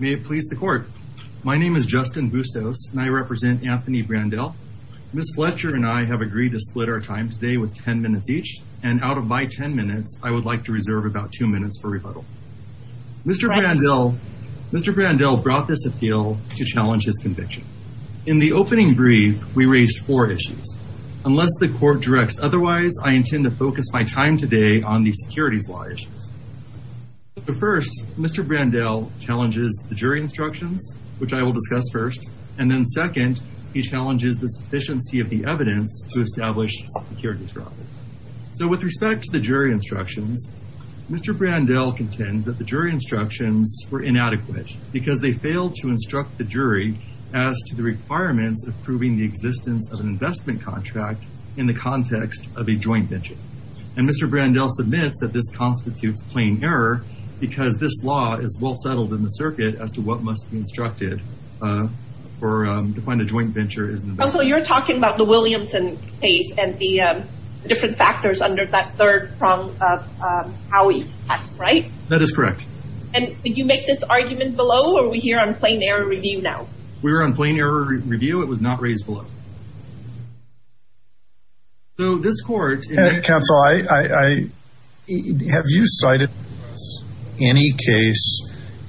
May it please the court. My name is Justin Bustos and I represent Anthony Brandel. Ms. Fletcher and I have agreed to split our time today with 10 minutes each and out of my 10 minutes, I would like to reserve about two minutes for rebuttal. Mr. Brandel brought this appeal to challenge his conviction. In the opening brief, we raised four issues. Unless the court directs otherwise, I intend to focus my time today on the securities law issues. But first, Mr. Brandel challenges the jury instructions, which I will discuss first, and then second, he challenges the sufficiency of the evidence to establish security. So with respect to the jury instructions, Mr. Brandel contends that the jury instructions were inadequate because they failed to instruct the jury as to the requirements of proving the existence of an investment contract in the context of a joint venture. And Mr. Brandel admits that this constitutes plain error because this law is well settled in the circuit as to what must be instructed to find a joint venture. Counsel, you're talking about the Williamson case and the different factors under that third prong of Howey's test, right? That is correct. And did you make this argument below or are we here on plain error review now? We were on plain review. It was not raised below. So this court... Counsel, have you cited any case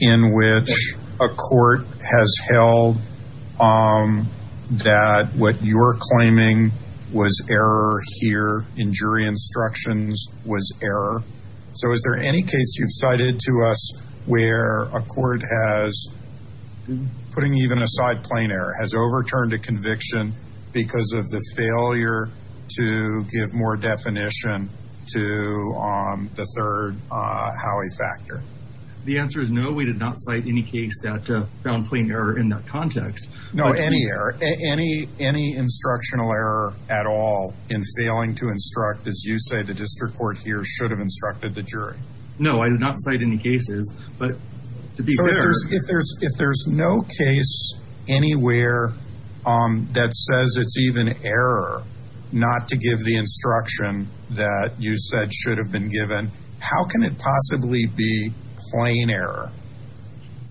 in which a court has held that what you're claiming was error here in jury instructions was error? So is there any you've cited to us where a court has, putting even aside plain error, has overturned a conviction because of the failure to give more definition to the third Howey factor? The answer is no, we did not cite any case that found plain error in that context. No, any error, any instructional error at all in failing to instruct, as you say, the district court here should have instructed the jury. No, I did not cite any cases, but to be fair... So if there's no case anywhere that says it's even error not to give the instruction that you said should have been given, how can it possibly be plain error?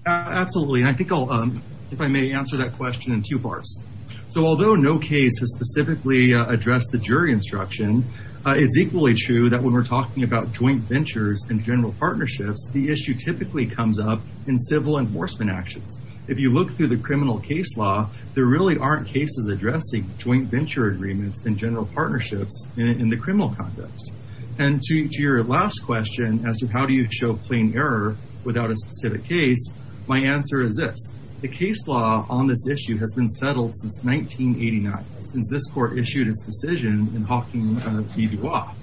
Absolutely, and I think I'll, if I may, answer that question in two parts. So although no case has specifically addressed the jury instruction, it's equally true that when we're talking about joint ventures and general partnerships, the issue typically comes up in civil enforcement actions. If you look through the criminal case law, there really aren't cases addressing joint venture agreements and general partnerships in the criminal context. And to your last question as to how do you show plain error without a specific case, my answer is this, the case law on this issue has been settled since 1989, since this court issued its decision in Piedmont.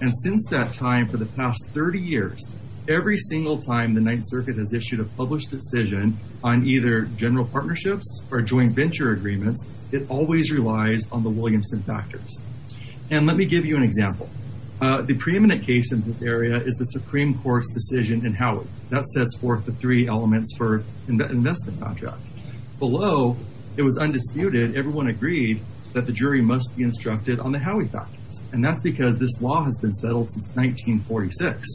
And since that time, for the past 30 years, every single time the Ninth Circuit has issued a published decision on either general partnerships or joint venture agreements, it always relies on the Williamson factors. And let me give you an example. The preeminent case in this area is the Supreme Court's decision in Howey. That sets forth the three elements for investment contract. Below, it was undisputed, everyone agreed that the jury must be instructed on the Howey factors. And that's because this law has been settled since 1946.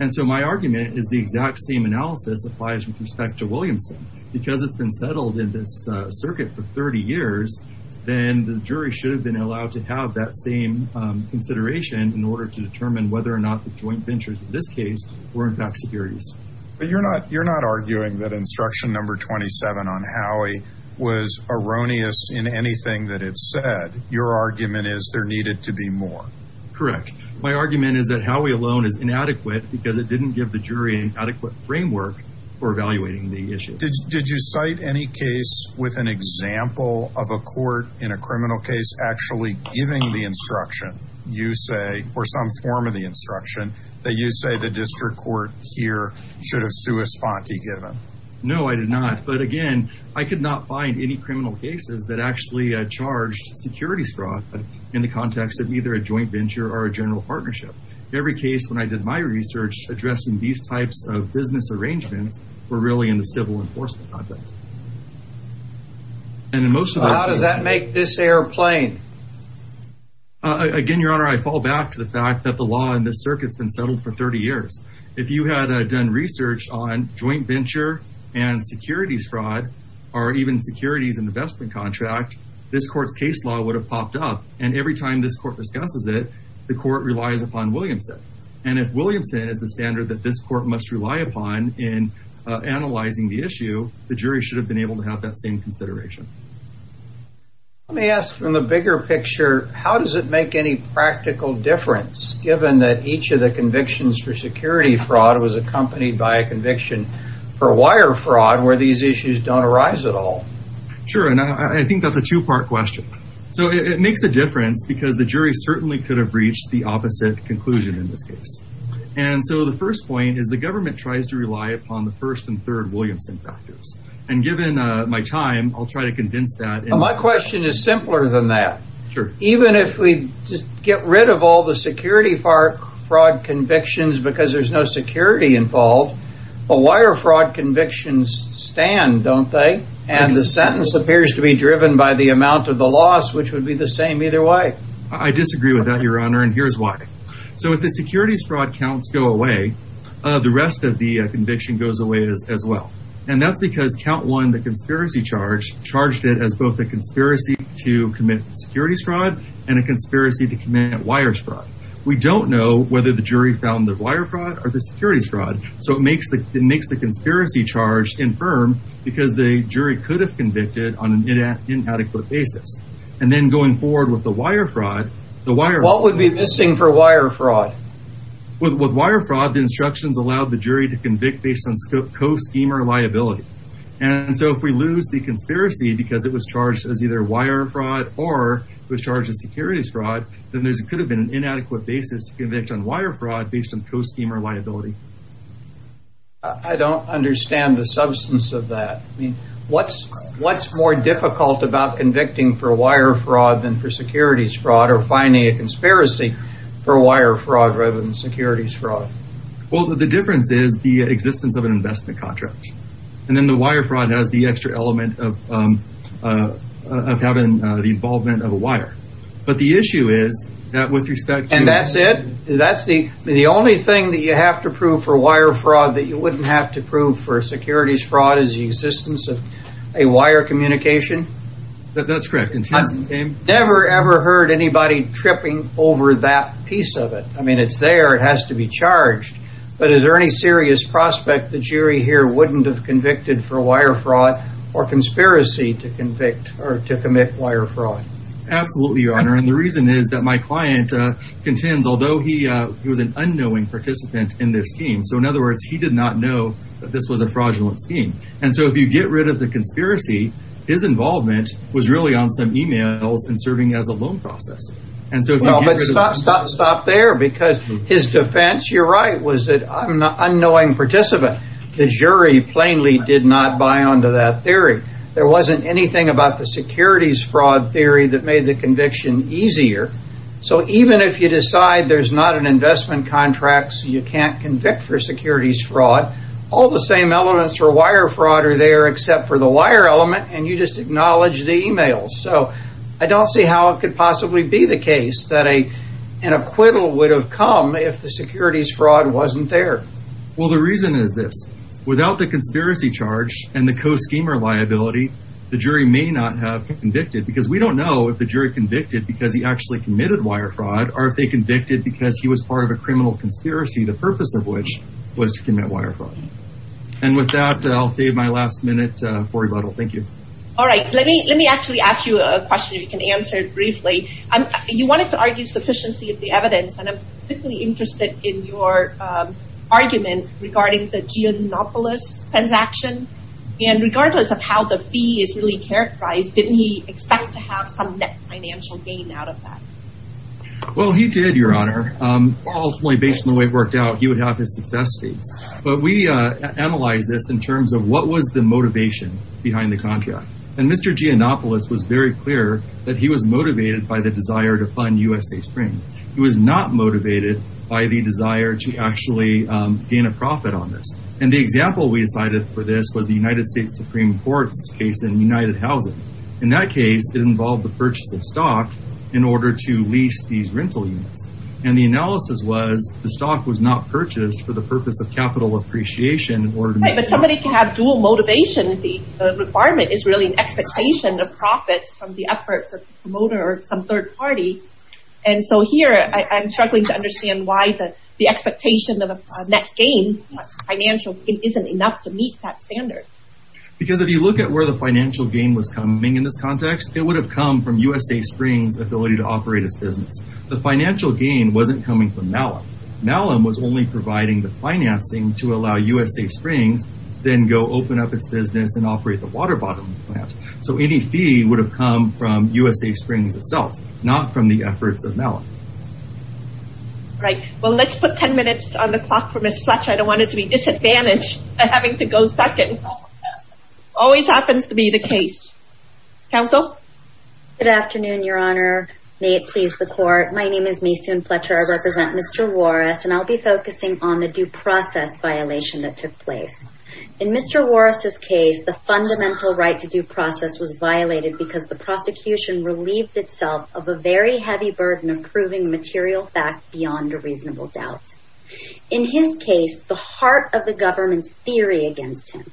And so my argument is the exact same analysis applies with respect to Williamson. Because it's been settled in this circuit for 30 years, then the jury should have been allowed to have that same consideration in order to determine whether or not the joint ventures in this case were in fact securities. But you're not arguing that instruction number 27 on Howey was erroneous in anything that it said. Your argument is there needed to be more. Correct. My argument is that Howey alone is inadequate because it didn't give the jury an adequate framework for evaluating the issue. Did you cite any case with an example of a court in a criminal case actually giving the instruction, you say, or some form of the instruction that you say the district court here should have sui sponte given? No, I did not. But again, I could not find any criminal cases that actually charged securities fraud in the context of either a joint venture or a general partnership. Every case when I did my research addressing these types of business arrangements were really in the civil enforcement context. And then most of that does that make this airplane? Again, Your Honor, I fall back to the fact that the law in the circuits been settled for 30 years. If you had done research on joint venture, and securities fraud, or even securities investment contract, this court's case law would have popped up. And every time this court discusses it, the court relies upon Williamson. And if Williamson is the standard that this court must rely upon in analyzing the issue, the jury should have been able to have that same consideration. Let me ask from the bigger picture, how does it make any practical difference given that each of the convictions for security fraud was accompanied by a conviction for wire fraud where these issues don't arise at all? Sure. And I think that's a two part question. So it makes a difference because the jury certainly could have reached the opposite conclusion in this case. And so the first point is the government tries to rely upon the first and third Williamson factors. And given my time, I'll try to convince that my question is simpler than that. Sure. Even if we just get rid of all the security for fraud convictions, because there's no security involved. A wire fraud convictions stand, don't they? And the sentence appears to be driven by the amount of the loss, which would be the same either way. I disagree with that, your honor. And here's why. So if the securities fraud counts go away, the rest of the conviction goes away as well. And that's because count one, the conspiracy charge charged it as both a conspiracy to commit securities fraud and a conspiracy to commit wires fraud. We don't know whether the jury found the wire fraud or the conspiracy charge infirm because the jury could have convicted on an inadequate basis. And then going forward with the wire fraud, the wire... What would be missing for wire fraud? With wire fraud, the instructions allowed the jury to convict based on co-schemer liability. And so if we lose the conspiracy because it was charged as either wire fraud or was charged as securities fraud, then there could have been an inadequate basis to convict on wire fraud based on co-schemer liability. I don't understand the substance of that. I mean, what's more difficult about convicting for wire fraud than for securities fraud or finding a conspiracy for wire fraud rather than securities fraud? Well, the difference is the existence of an investment contract. And then the wire fraud has the extra element of having the involvement of a wire. But the issue is that with respect to... And that's it? Is that the only thing that you have to prove for wire fraud that you wouldn't have to prove for securities fraud is the existence of a wire communication? That's correct. I've never ever heard anybody tripping over that piece of it. I mean, it's there. It has to be charged. But is there any serious prospect the jury here wouldn't have convicted for wire fraud or conspiracy to convict or to commit wire fraud? Absolutely, Your Honor. And the reason is that my client contends, although he was an unknowing participant in this scheme. So in other words, he did not know that this was a fraudulent scheme. And so if you get rid of the conspiracy, his involvement was really on some emails and serving as a loan process. And so... Stop there, because his defense, you're right, was that I'm an unknowing participant. The jury plainly did not buy onto that theory. There wasn't anything about the securities fraud theory that made the conviction easier. So even if you decide there's not an investment contract, so you can't convict for securities fraud, all the same elements for wire fraud are there except for the wire element. And you just acknowledge the emails. So I don't see how it could possibly be the case that an acquittal would have come if the securities fraud wasn't there. Well, the reason is this. Without the conspiracy charge and the co-schemer liability, the jury may not have convicted, because we don't know if the jury convicted because he actually committed wire fraud or if they convicted because he was part of a criminal conspiracy, the purpose of which was to commit wire fraud. And with that, I'll save my last minute for Yvetel. Thank you. All right. Let me actually ask you a question if you can answer it briefly. You wanted to argue sufficiency of the evidence, and I'm particularly interested in your transaction. And regardless of how the fee is really characterized, didn't he expect to have some net financial gain out of that? Well, he did, Your Honor. Ultimately, based on the way it worked out, he would have his success fees. But we analyzed this in terms of what was the motivation behind the contract. And Mr. Giannopoulos was very clear that he was motivated by the desire to fund USA Springs. He was not motivated by the desire to actually gain a profit on this. And the example we decided for this was the United States Supreme Court's case in United Housing. In that case, it involved the purchase of stock in order to lease these rental units. And the analysis was the stock was not purchased for the purpose of capital appreciation in order to make money. But somebody can have dual motivation. The requirement is really an expectation of profits from the efforts of a promoter or some third party. And so here, I'm struggling to understand why the expectation of a net gain financial isn't enough to meet that standard. Because if you look at where the financial gain was coming in this context, it would have come from USA Springs' ability to operate its business. The financial gain wasn't coming from Malum. Malum was only providing the financing to allow USA Springs then go open up its business and operate the water bottling plant. So any fee would have come from the efforts of Malum. Right. Well, let's put 10 minutes on the clock for Ms. Fletcher. I don't want it to be disadvantaged by having to go second. Always happens to be the case. Counsel? Good afternoon, Your Honor. May it please the court. My name is Maysoon Fletcher. I represent Mr. Warris, and I'll be focusing on the due process violation that took place. In Mr. Warris' case, the fundamental right to due process was violated because the prosecution relieved itself of a very heavy burden of proving material fact beyond a reasonable doubt. In his case, the heart of the government's theory against him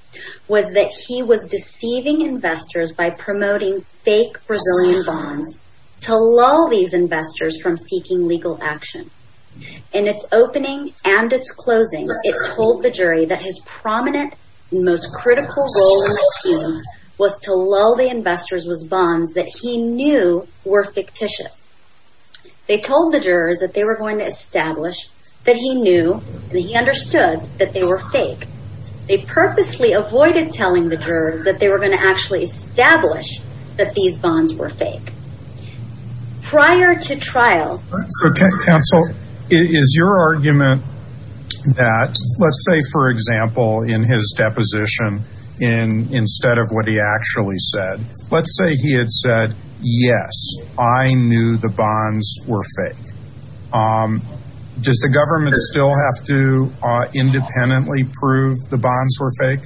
was that he was deceiving investors by promoting fake Brazilian bonds to lull these investors from seeking legal action. In its opening and its closing, it told the jury that his prominent, most critical goal in the case was to lull the were fictitious. They told the jurors that they were going to establish that he knew that he understood that they were fake. They purposely avoided telling the jurors that they were going to actually establish that these bonds were fake. Prior to trial. So, Counsel, is your argument that, let's say, for example, in his deposition, instead of what he actually said, let's say he said, yes, I knew the bonds were fake. Does the government still have to independently prove the bonds were fake?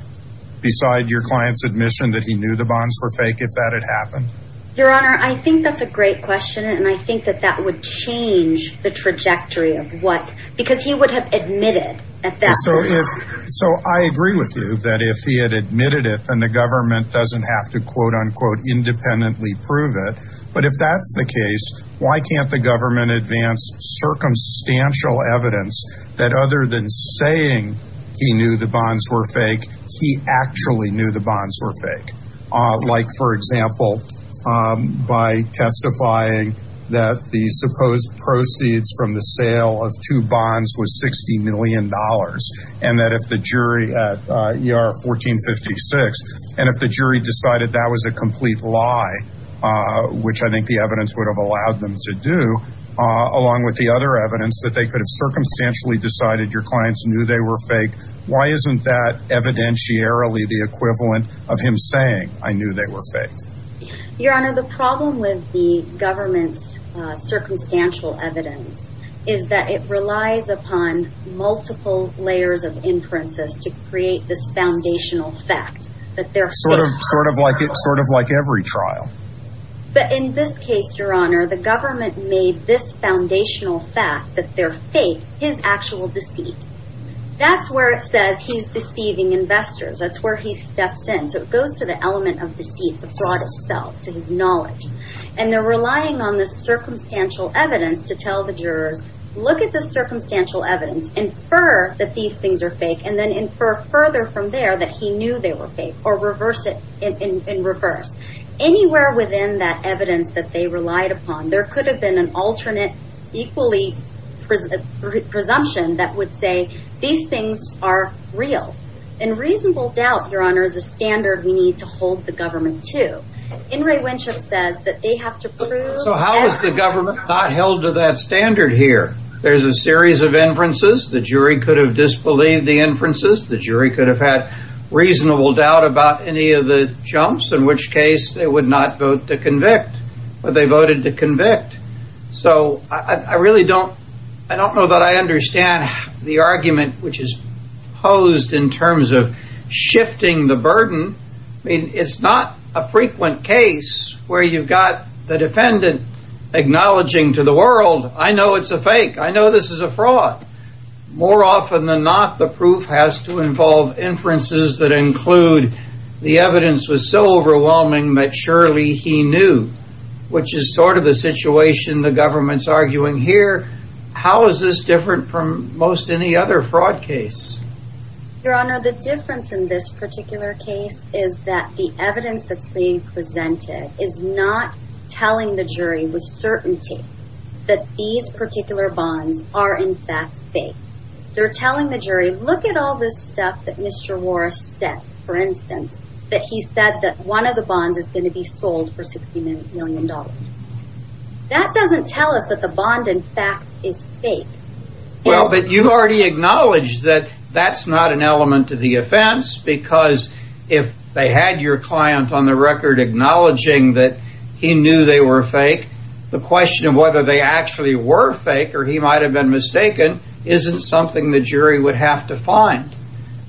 Beside your client's admission that he knew the bonds were fake, if that had happened? Your Honor, I think that's a great question. And I think that that would change the trajectory of what, because he would have admitted at that point. So I agree with you that if he had admitted it, then the government doesn't have to, quote, unquote, independently prove it. But if that's the case, why can't the government advance circumstantial evidence that other than saying he knew the bonds were fake, he actually knew the bonds were fake? Like, for example, by testifying that the supposed proceeds from the sale of two bonds was $60 in 1456. And if the jury decided that was a complete lie, which I think the evidence would have allowed them to do, along with the other evidence that they could have circumstantially decided your clients knew they were fake, why isn't that evidentiarily the equivalent of him saying, I knew they were fake? Your Honor, the problem with the government's circumstantial evidence is that it relies upon multiple layers of inferences to create this foundational fact that they're fake. Sort of like every trial. But in this case, Your Honor, the government made this foundational fact that they're fake, his actual deceit. That's where it says he's deceiving investors. That's where he steps in. So it goes to the element of deceit, the fraud itself, to his knowledge. And they're relying on this circumstantial evidence to tell the jurors, look at this circumstantial evidence, infer that these things are fake, and then infer further from there that he knew they were fake, or reverse it in reverse. Anywhere within that evidence that they relied upon, there could have been an alternate equally presumption that would say these things are real. In reasonable doubt, Your Honor, is a standard we need to hold the In re Winship says that they have to prove... So how is the government not held to that standard here? There's a series of inferences, the jury could have disbelieved the inferences, the jury could have had reasonable doubt about any of the jumps, in which case they would not vote to convict. But they voted to convict. So I really don't, I don't know that I understand the argument which is posed in terms of shifting the burden. I mean, it's not a frequent case where you've got the defendant acknowledging to the world, I know it's a fake, I know this is a fraud. More often than not, the proof has to involve inferences that include, the evidence was so overwhelming that surely he knew, which is sort of the situation the government's arguing here. How is this different from most any other fraud case? Your Honor, the difference in this particular case is that the evidence that's being presented is not telling the jury with certainty that these particular bonds are in fact fake. They're telling the jury, look at all this stuff that Mr. Warris said, for instance, that he said that one of the bonds is going to be sold for $60 million. That doesn't tell us that the bond in fact is fake. Well, but you've already acknowledged that that's not an element of the offense because if they had your client on the record acknowledging that he knew they were fake, the question of whether they actually were fake or he might have been mistaken isn't something the jury would have to find.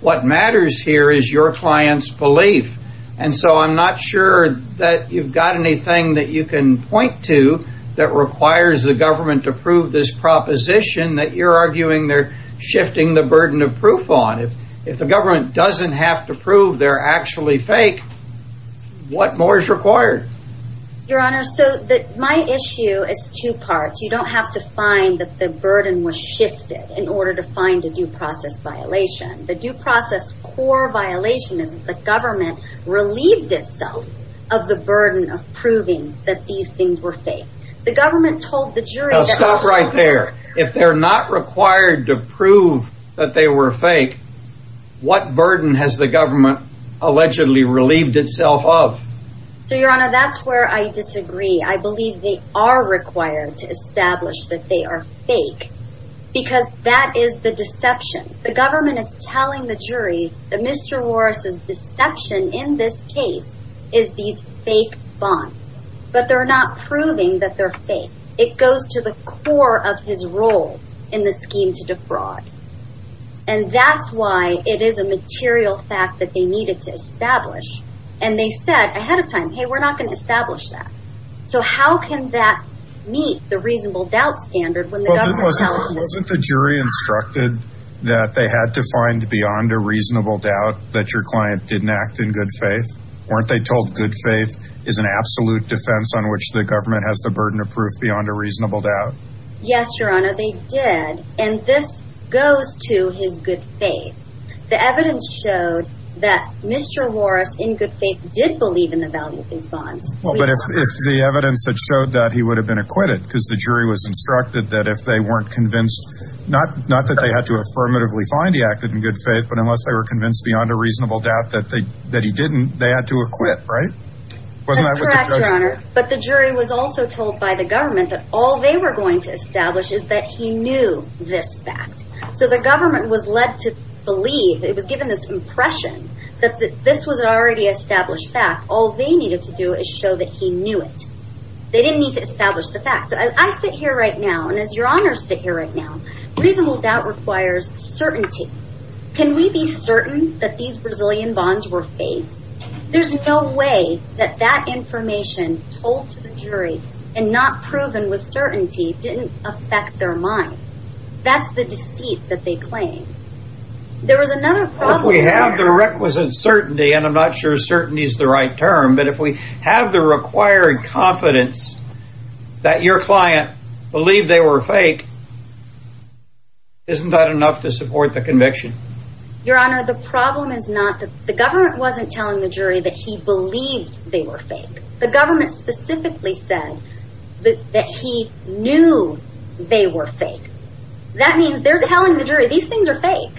What matters here is your client's sure that you've got anything that you can point to that requires the government to prove this proposition that you're arguing they're shifting the burden of proof on. If the government doesn't have to prove they're actually fake, what more is required? Your Honor, so my issue is two parts. You don't have to find that the burden was shifted in order to find a due process violation. The due of the burden of proving that these things were fake. The government told the jury. Stop right there. If they're not required to prove that they were fake, what burden has the government allegedly relieved itself of? So your Honor, that's where I disagree. I believe they are required to establish that they are fake because that is the deception. The government is telling the jury that Mr. Morris's deception in this case is these fake bonds. But they're not proving that they're fake. It goes to the core of his role in the scheme to defraud. And that's why it is a material fact that they needed to establish. And they said ahead of time, hey, we're not going to establish that. So how can that meet the reasonable doubt standard when the jury instructed that they had to find beyond a reasonable doubt that your client didn't act in good faith? Weren't they told good faith is an absolute defense on which the government has the burden of proof beyond a reasonable doubt? Yes, Your Honor, they did. And this goes to his good faith. The evidence showed that Mr. Morris in good faith did believe in the value of these bonds. Well, but if the evidence that showed that he would have been acquitted because the jury was convinced, not that they had to affirmatively find he acted in good faith, but unless they were convinced beyond a reasonable doubt that he didn't, they had to acquit, right? That's correct, Your Honor. But the jury was also told by the government that all they were going to establish is that he knew this fact. So the government was led to believe, it was given this impression, that this was already established fact. All they needed to do is show that he knew it. They didn't need to establish the fact. I sit here right now, and as Your Honor sit here right now, reasonable doubt requires certainty. Can we be certain that these Brazilian bonds were fake? There's no way that that information told to the jury and not proven with certainty didn't affect their mind. That's the deceit that they claim. There was another problem. If we have the requisite certainty, and I'm not sure certainty is the right term, but if we have the required confidence that your client believed they were fake, isn't that enough to support the conviction? Your Honor, the problem is not that the government wasn't telling the jury that he believed they were fake. The government specifically said that he knew they were fake. That means they're telling the jury these things are fake,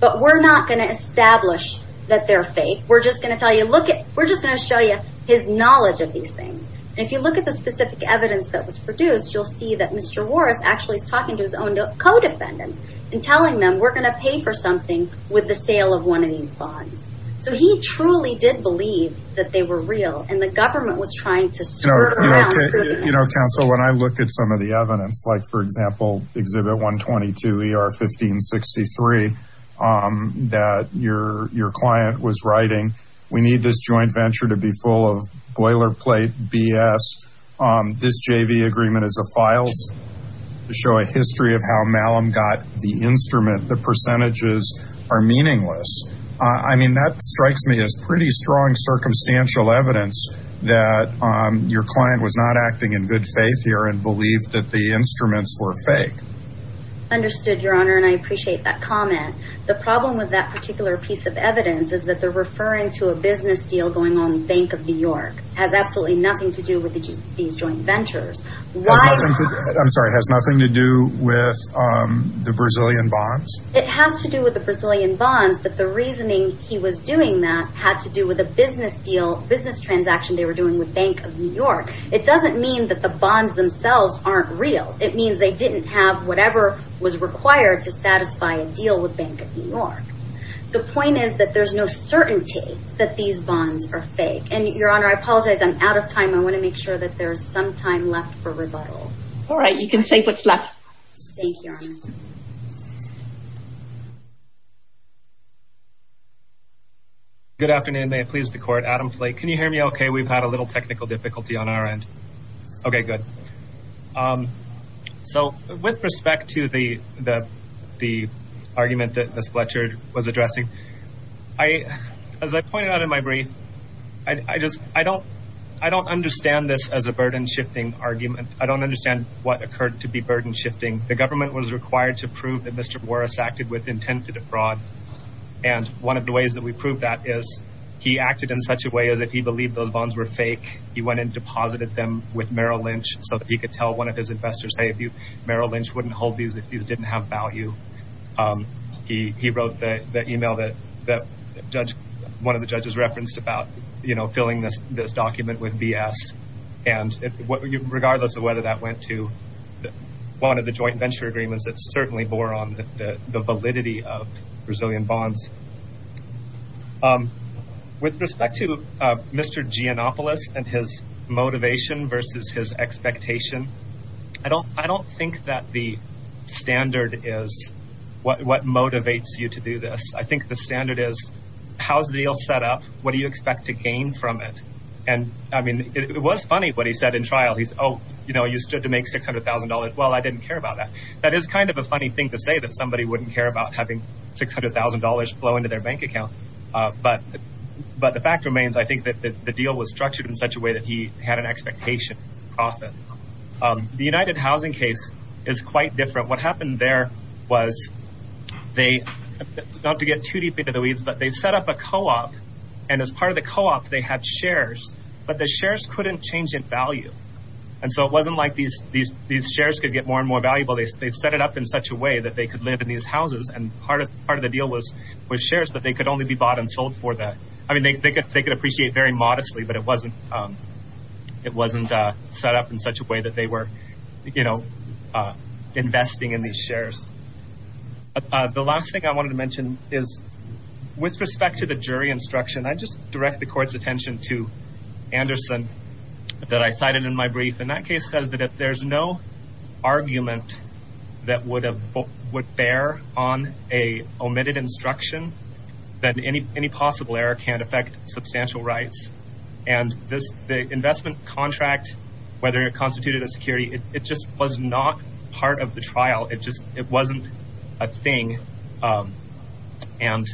but we're not going to establish that they're fake. We're just going to tell you, look at, we're just going to show you his knowledge of these things. And if you look at the specific evidence that was produced, you'll see that Mr. Warris actually is talking to his own co-defendants and telling them we're going to pay for something with the sale of one of these bonds. So he truly did believe that they were real, and the government was trying to prove that. I mean, that strikes me as pretty strong circumstantial evidence that your client was not acting in good faith here and believed that the instruments were fake. Understood, Your Honor, and I appreciate that comment. The problem with that particular piece of evidence is that they're referring to a business deal going on in Bank of New York. Has absolutely nothing to do with these joint ventures. I'm sorry, has nothing to do with the Brazilian bonds? It has to do with the Brazilian bonds, but the reasoning he was doing that had to do with a business transaction they were doing with Bank of New York, it doesn't mean that the bonds themselves aren't real. It means they didn't have whatever was required to satisfy a deal with Bank of New York. The point is that there's no certainty that these bonds are fake. And Your Honor, I apologize, I'm out of time. I want to make sure that there's some time left for rebuttal. All right, you can take what's left. Thank you, Your Honor. Good afternoon, may it please the court. Adam Flake. Can you hear me okay? We've had a little technical difficulty on our end. Okay, good. So with respect to the argument that Ms. Fletcher was addressing, as I pointed out in my brief, I don't understand this as a burden-shifting argument. The government was required to prove that Mr. Morris acted with intent to defraud. And one of the ways that we proved that is he acted in such a way as if he believed those bonds were fake, he went and deposited them with Merrill Lynch so that he could tell one of his investors, hey, Merrill Lynch wouldn't hold these if these didn't have value. He wrote one of the judges referenced about filling this document with BS. And regardless of whether that went to one of the joint venture agreements, it certainly bore on the validity of Brazilian bonds. With respect to Mr. Giannopoulos and his motivation versus his expectation, I don't think that the standard is what motivates you to do this. I think the standard is how's the deal set up? What do you expect to gain from it? And I mean, it was funny what he said in the book. He said to make $600,000. Well, I didn't care about that. That is kind of a funny thing to say that somebody wouldn't care about having $600,000 flow into their bank account. But the fact remains, I think that the deal was structured in such a way that he had an expectation profit. The United Housing case is quite different. What happened there was they, not to get too deeply into the weeds, but they set up a co-op. And as part of the co-op, they had shares, but the shares couldn't change in value. And so it wasn't like these shares could get more and more valuable. They set it up in such a way that they could live in these houses. And part of the deal was with shares, but they could only be bought and sold for that. I mean, they could appreciate very modestly, but it wasn't set up in such a way that they were investing in these shares. The last thing I wanted to mention is with respect to the jury instruction, I just direct the court's attention to Anderson that I cited in my brief. And that case says that if there's no argument that would bear on a omitted instruction, then any possible error can affect substantial rights. And the investment contract, whether it constituted a security, it just was not part of the trial. It wasn't a thing. And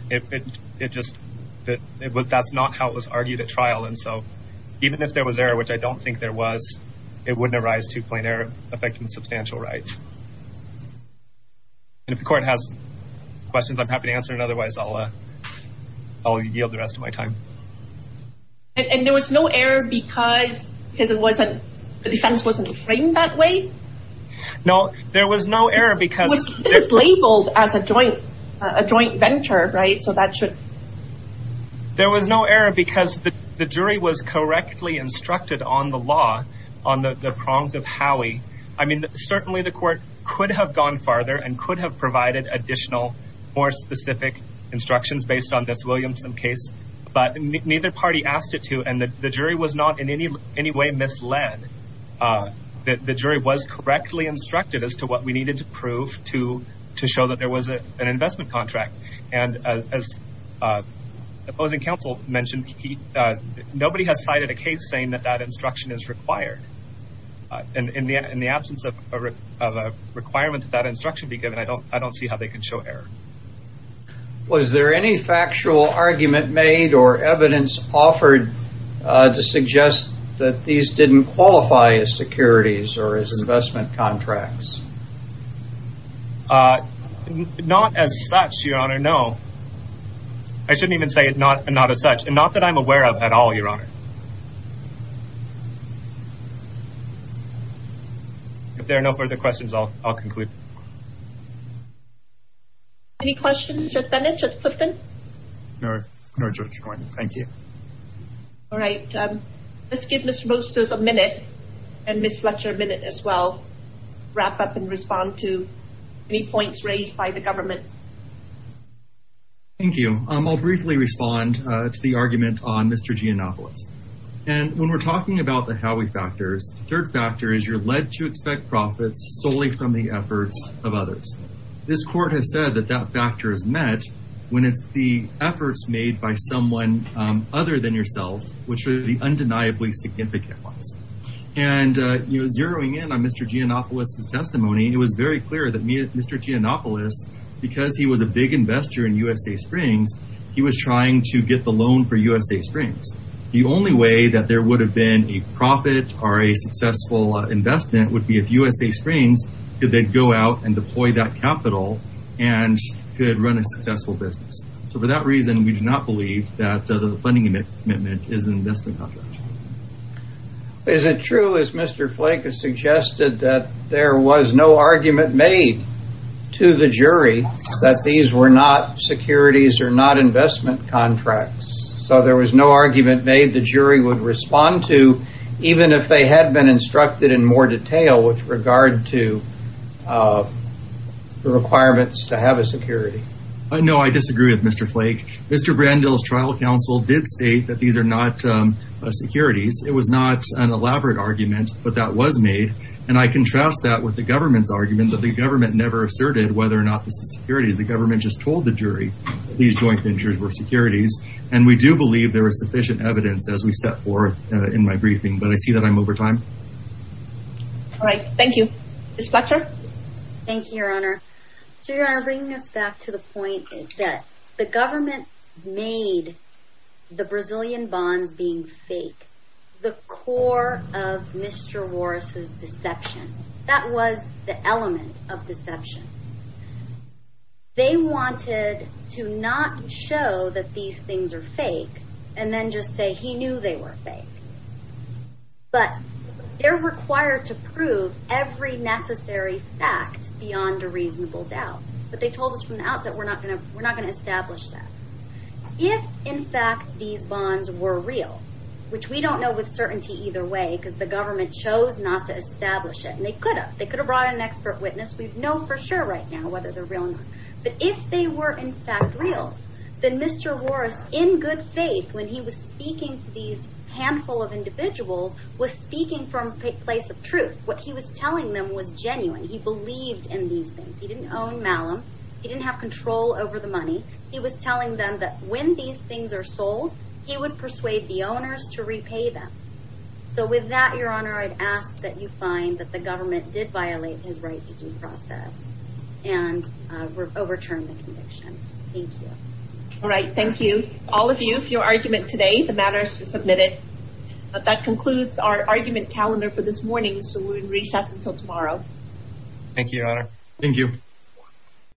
that's not how it was argued at trial. And so even if there was error, which I don't think there was, it wouldn't arise to plain error affecting substantial rights. And if the court has questions, I'm happy to answer it. Otherwise, I'll yield the rest of my time. And there was no error because the defense wasn't framed that way? No, there was no error because... This is labeled as a joint venture, right? So that should... There was no error because the jury was correctly instructed on the law, on the prongs of Howey. I mean, certainly the court could have gone farther and could have provided additional, more specific instructions based on this Williamson case, but neither party asked it to and the jury was not in any way misled. The jury was correctly instructed as to what we needed to prove to show that there was an investment contract. And as the opposing counsel mentioned, nobody has cited a case saying that that instruction is required. And in the absence of a requirement that that instruction be given, I don't see how they can show error. Was there any factual argument made or evidence offered to suggest that these didn't qualify as securities or as investment contracts? Not as such, Your Honor, no. I shouldn't even say it not as such and not that I'm aware of at all, Your Honor. If there are no further questions, I'll conclude. Any questions, Judge Bennett, Judge Clifton? No, no, Judge Coyne. Thank you. All right. Let's give Mr. Mostos a minute and Ms. Fletcher a minute as well, wrap up and respond to any points raised by the government. Thank you. I'll briefly respond to the argument on Mr. Giannopoulos. And when we're talking about the Howey factors, third factor is you're led to expect profits solely from the efforts of others. This court has said that that factor is met when it's the efforts made by someone other than yourself, which are the undeniably significant ones. And, you know, zeroing in on Mr. Giannopoulos' testimony, it was very clear that Mr. Giannopoulos, because he was a big investor in USA Springs, he was trying to get the loan for USA Springs. The only way that there would have been a profit or a successful investment would be if USA Springs could then go out and deploy that capital and could run a successful business. So for that reason, we do not believe that the funding commitment is an investment contract. Is it true, as Mr. Flake has suggested, that there was no argument made to the jury that these were securities or not investment contracts? So there was no argument made the jury would respond to, even if they had been instructed in more detail with regard to the requirements to have a security? No, I disagree with Mr. Flake. Mr. Brandl's trial counsel did state that these are not securities. It was not an elaborate argument, but that was made. And I contrast that with the government's argument that the government never asserted whether or not this is security. The jury, these joint ventures were securities. And we do believe there is sufficient evidence, as we set forth in my briefing, but I see that I'm over time. All right. Thank you. Ms. Fletcher? Thank you, Your Honor. So Your Honor, bringing us back to the point that the government made the Brazilian bonds being fake, the core of Mr. Warris' deception. That was the element of to not show that these things are fake, and then just say he knew they were fake. But they're required to prove every necessary fact beyond a reasonable doubt. But they told us from the outset, we're not going to establish that. If, in fact, these bonds were real, which we don't know with certainty either way, because the government chose not to establish it, and they could have. They could have brought in an expert witness. We know for sure right now whether they're real or not. But if they were, in fact, real, then Mr. Warris, in good faith, when he was speaking to these handful of individuals, was speaking from a place of truth. What he was telling them was genuine. He believed in these things. He didn't own Malum. He didn't have control over the money. He was telling them that when these things are sold, he would persuade the owners to repay them. So with that, Your Honor, I'd ask that you find that the government did violate his right to due process and overturn the conviction. Thank you. All right. Thank you, all of you, for your argument today. The matter is submitted. That concludes our argument calendar for this morning, so we'll recess until tomorrow. Thank you, Your Honor. Thank you.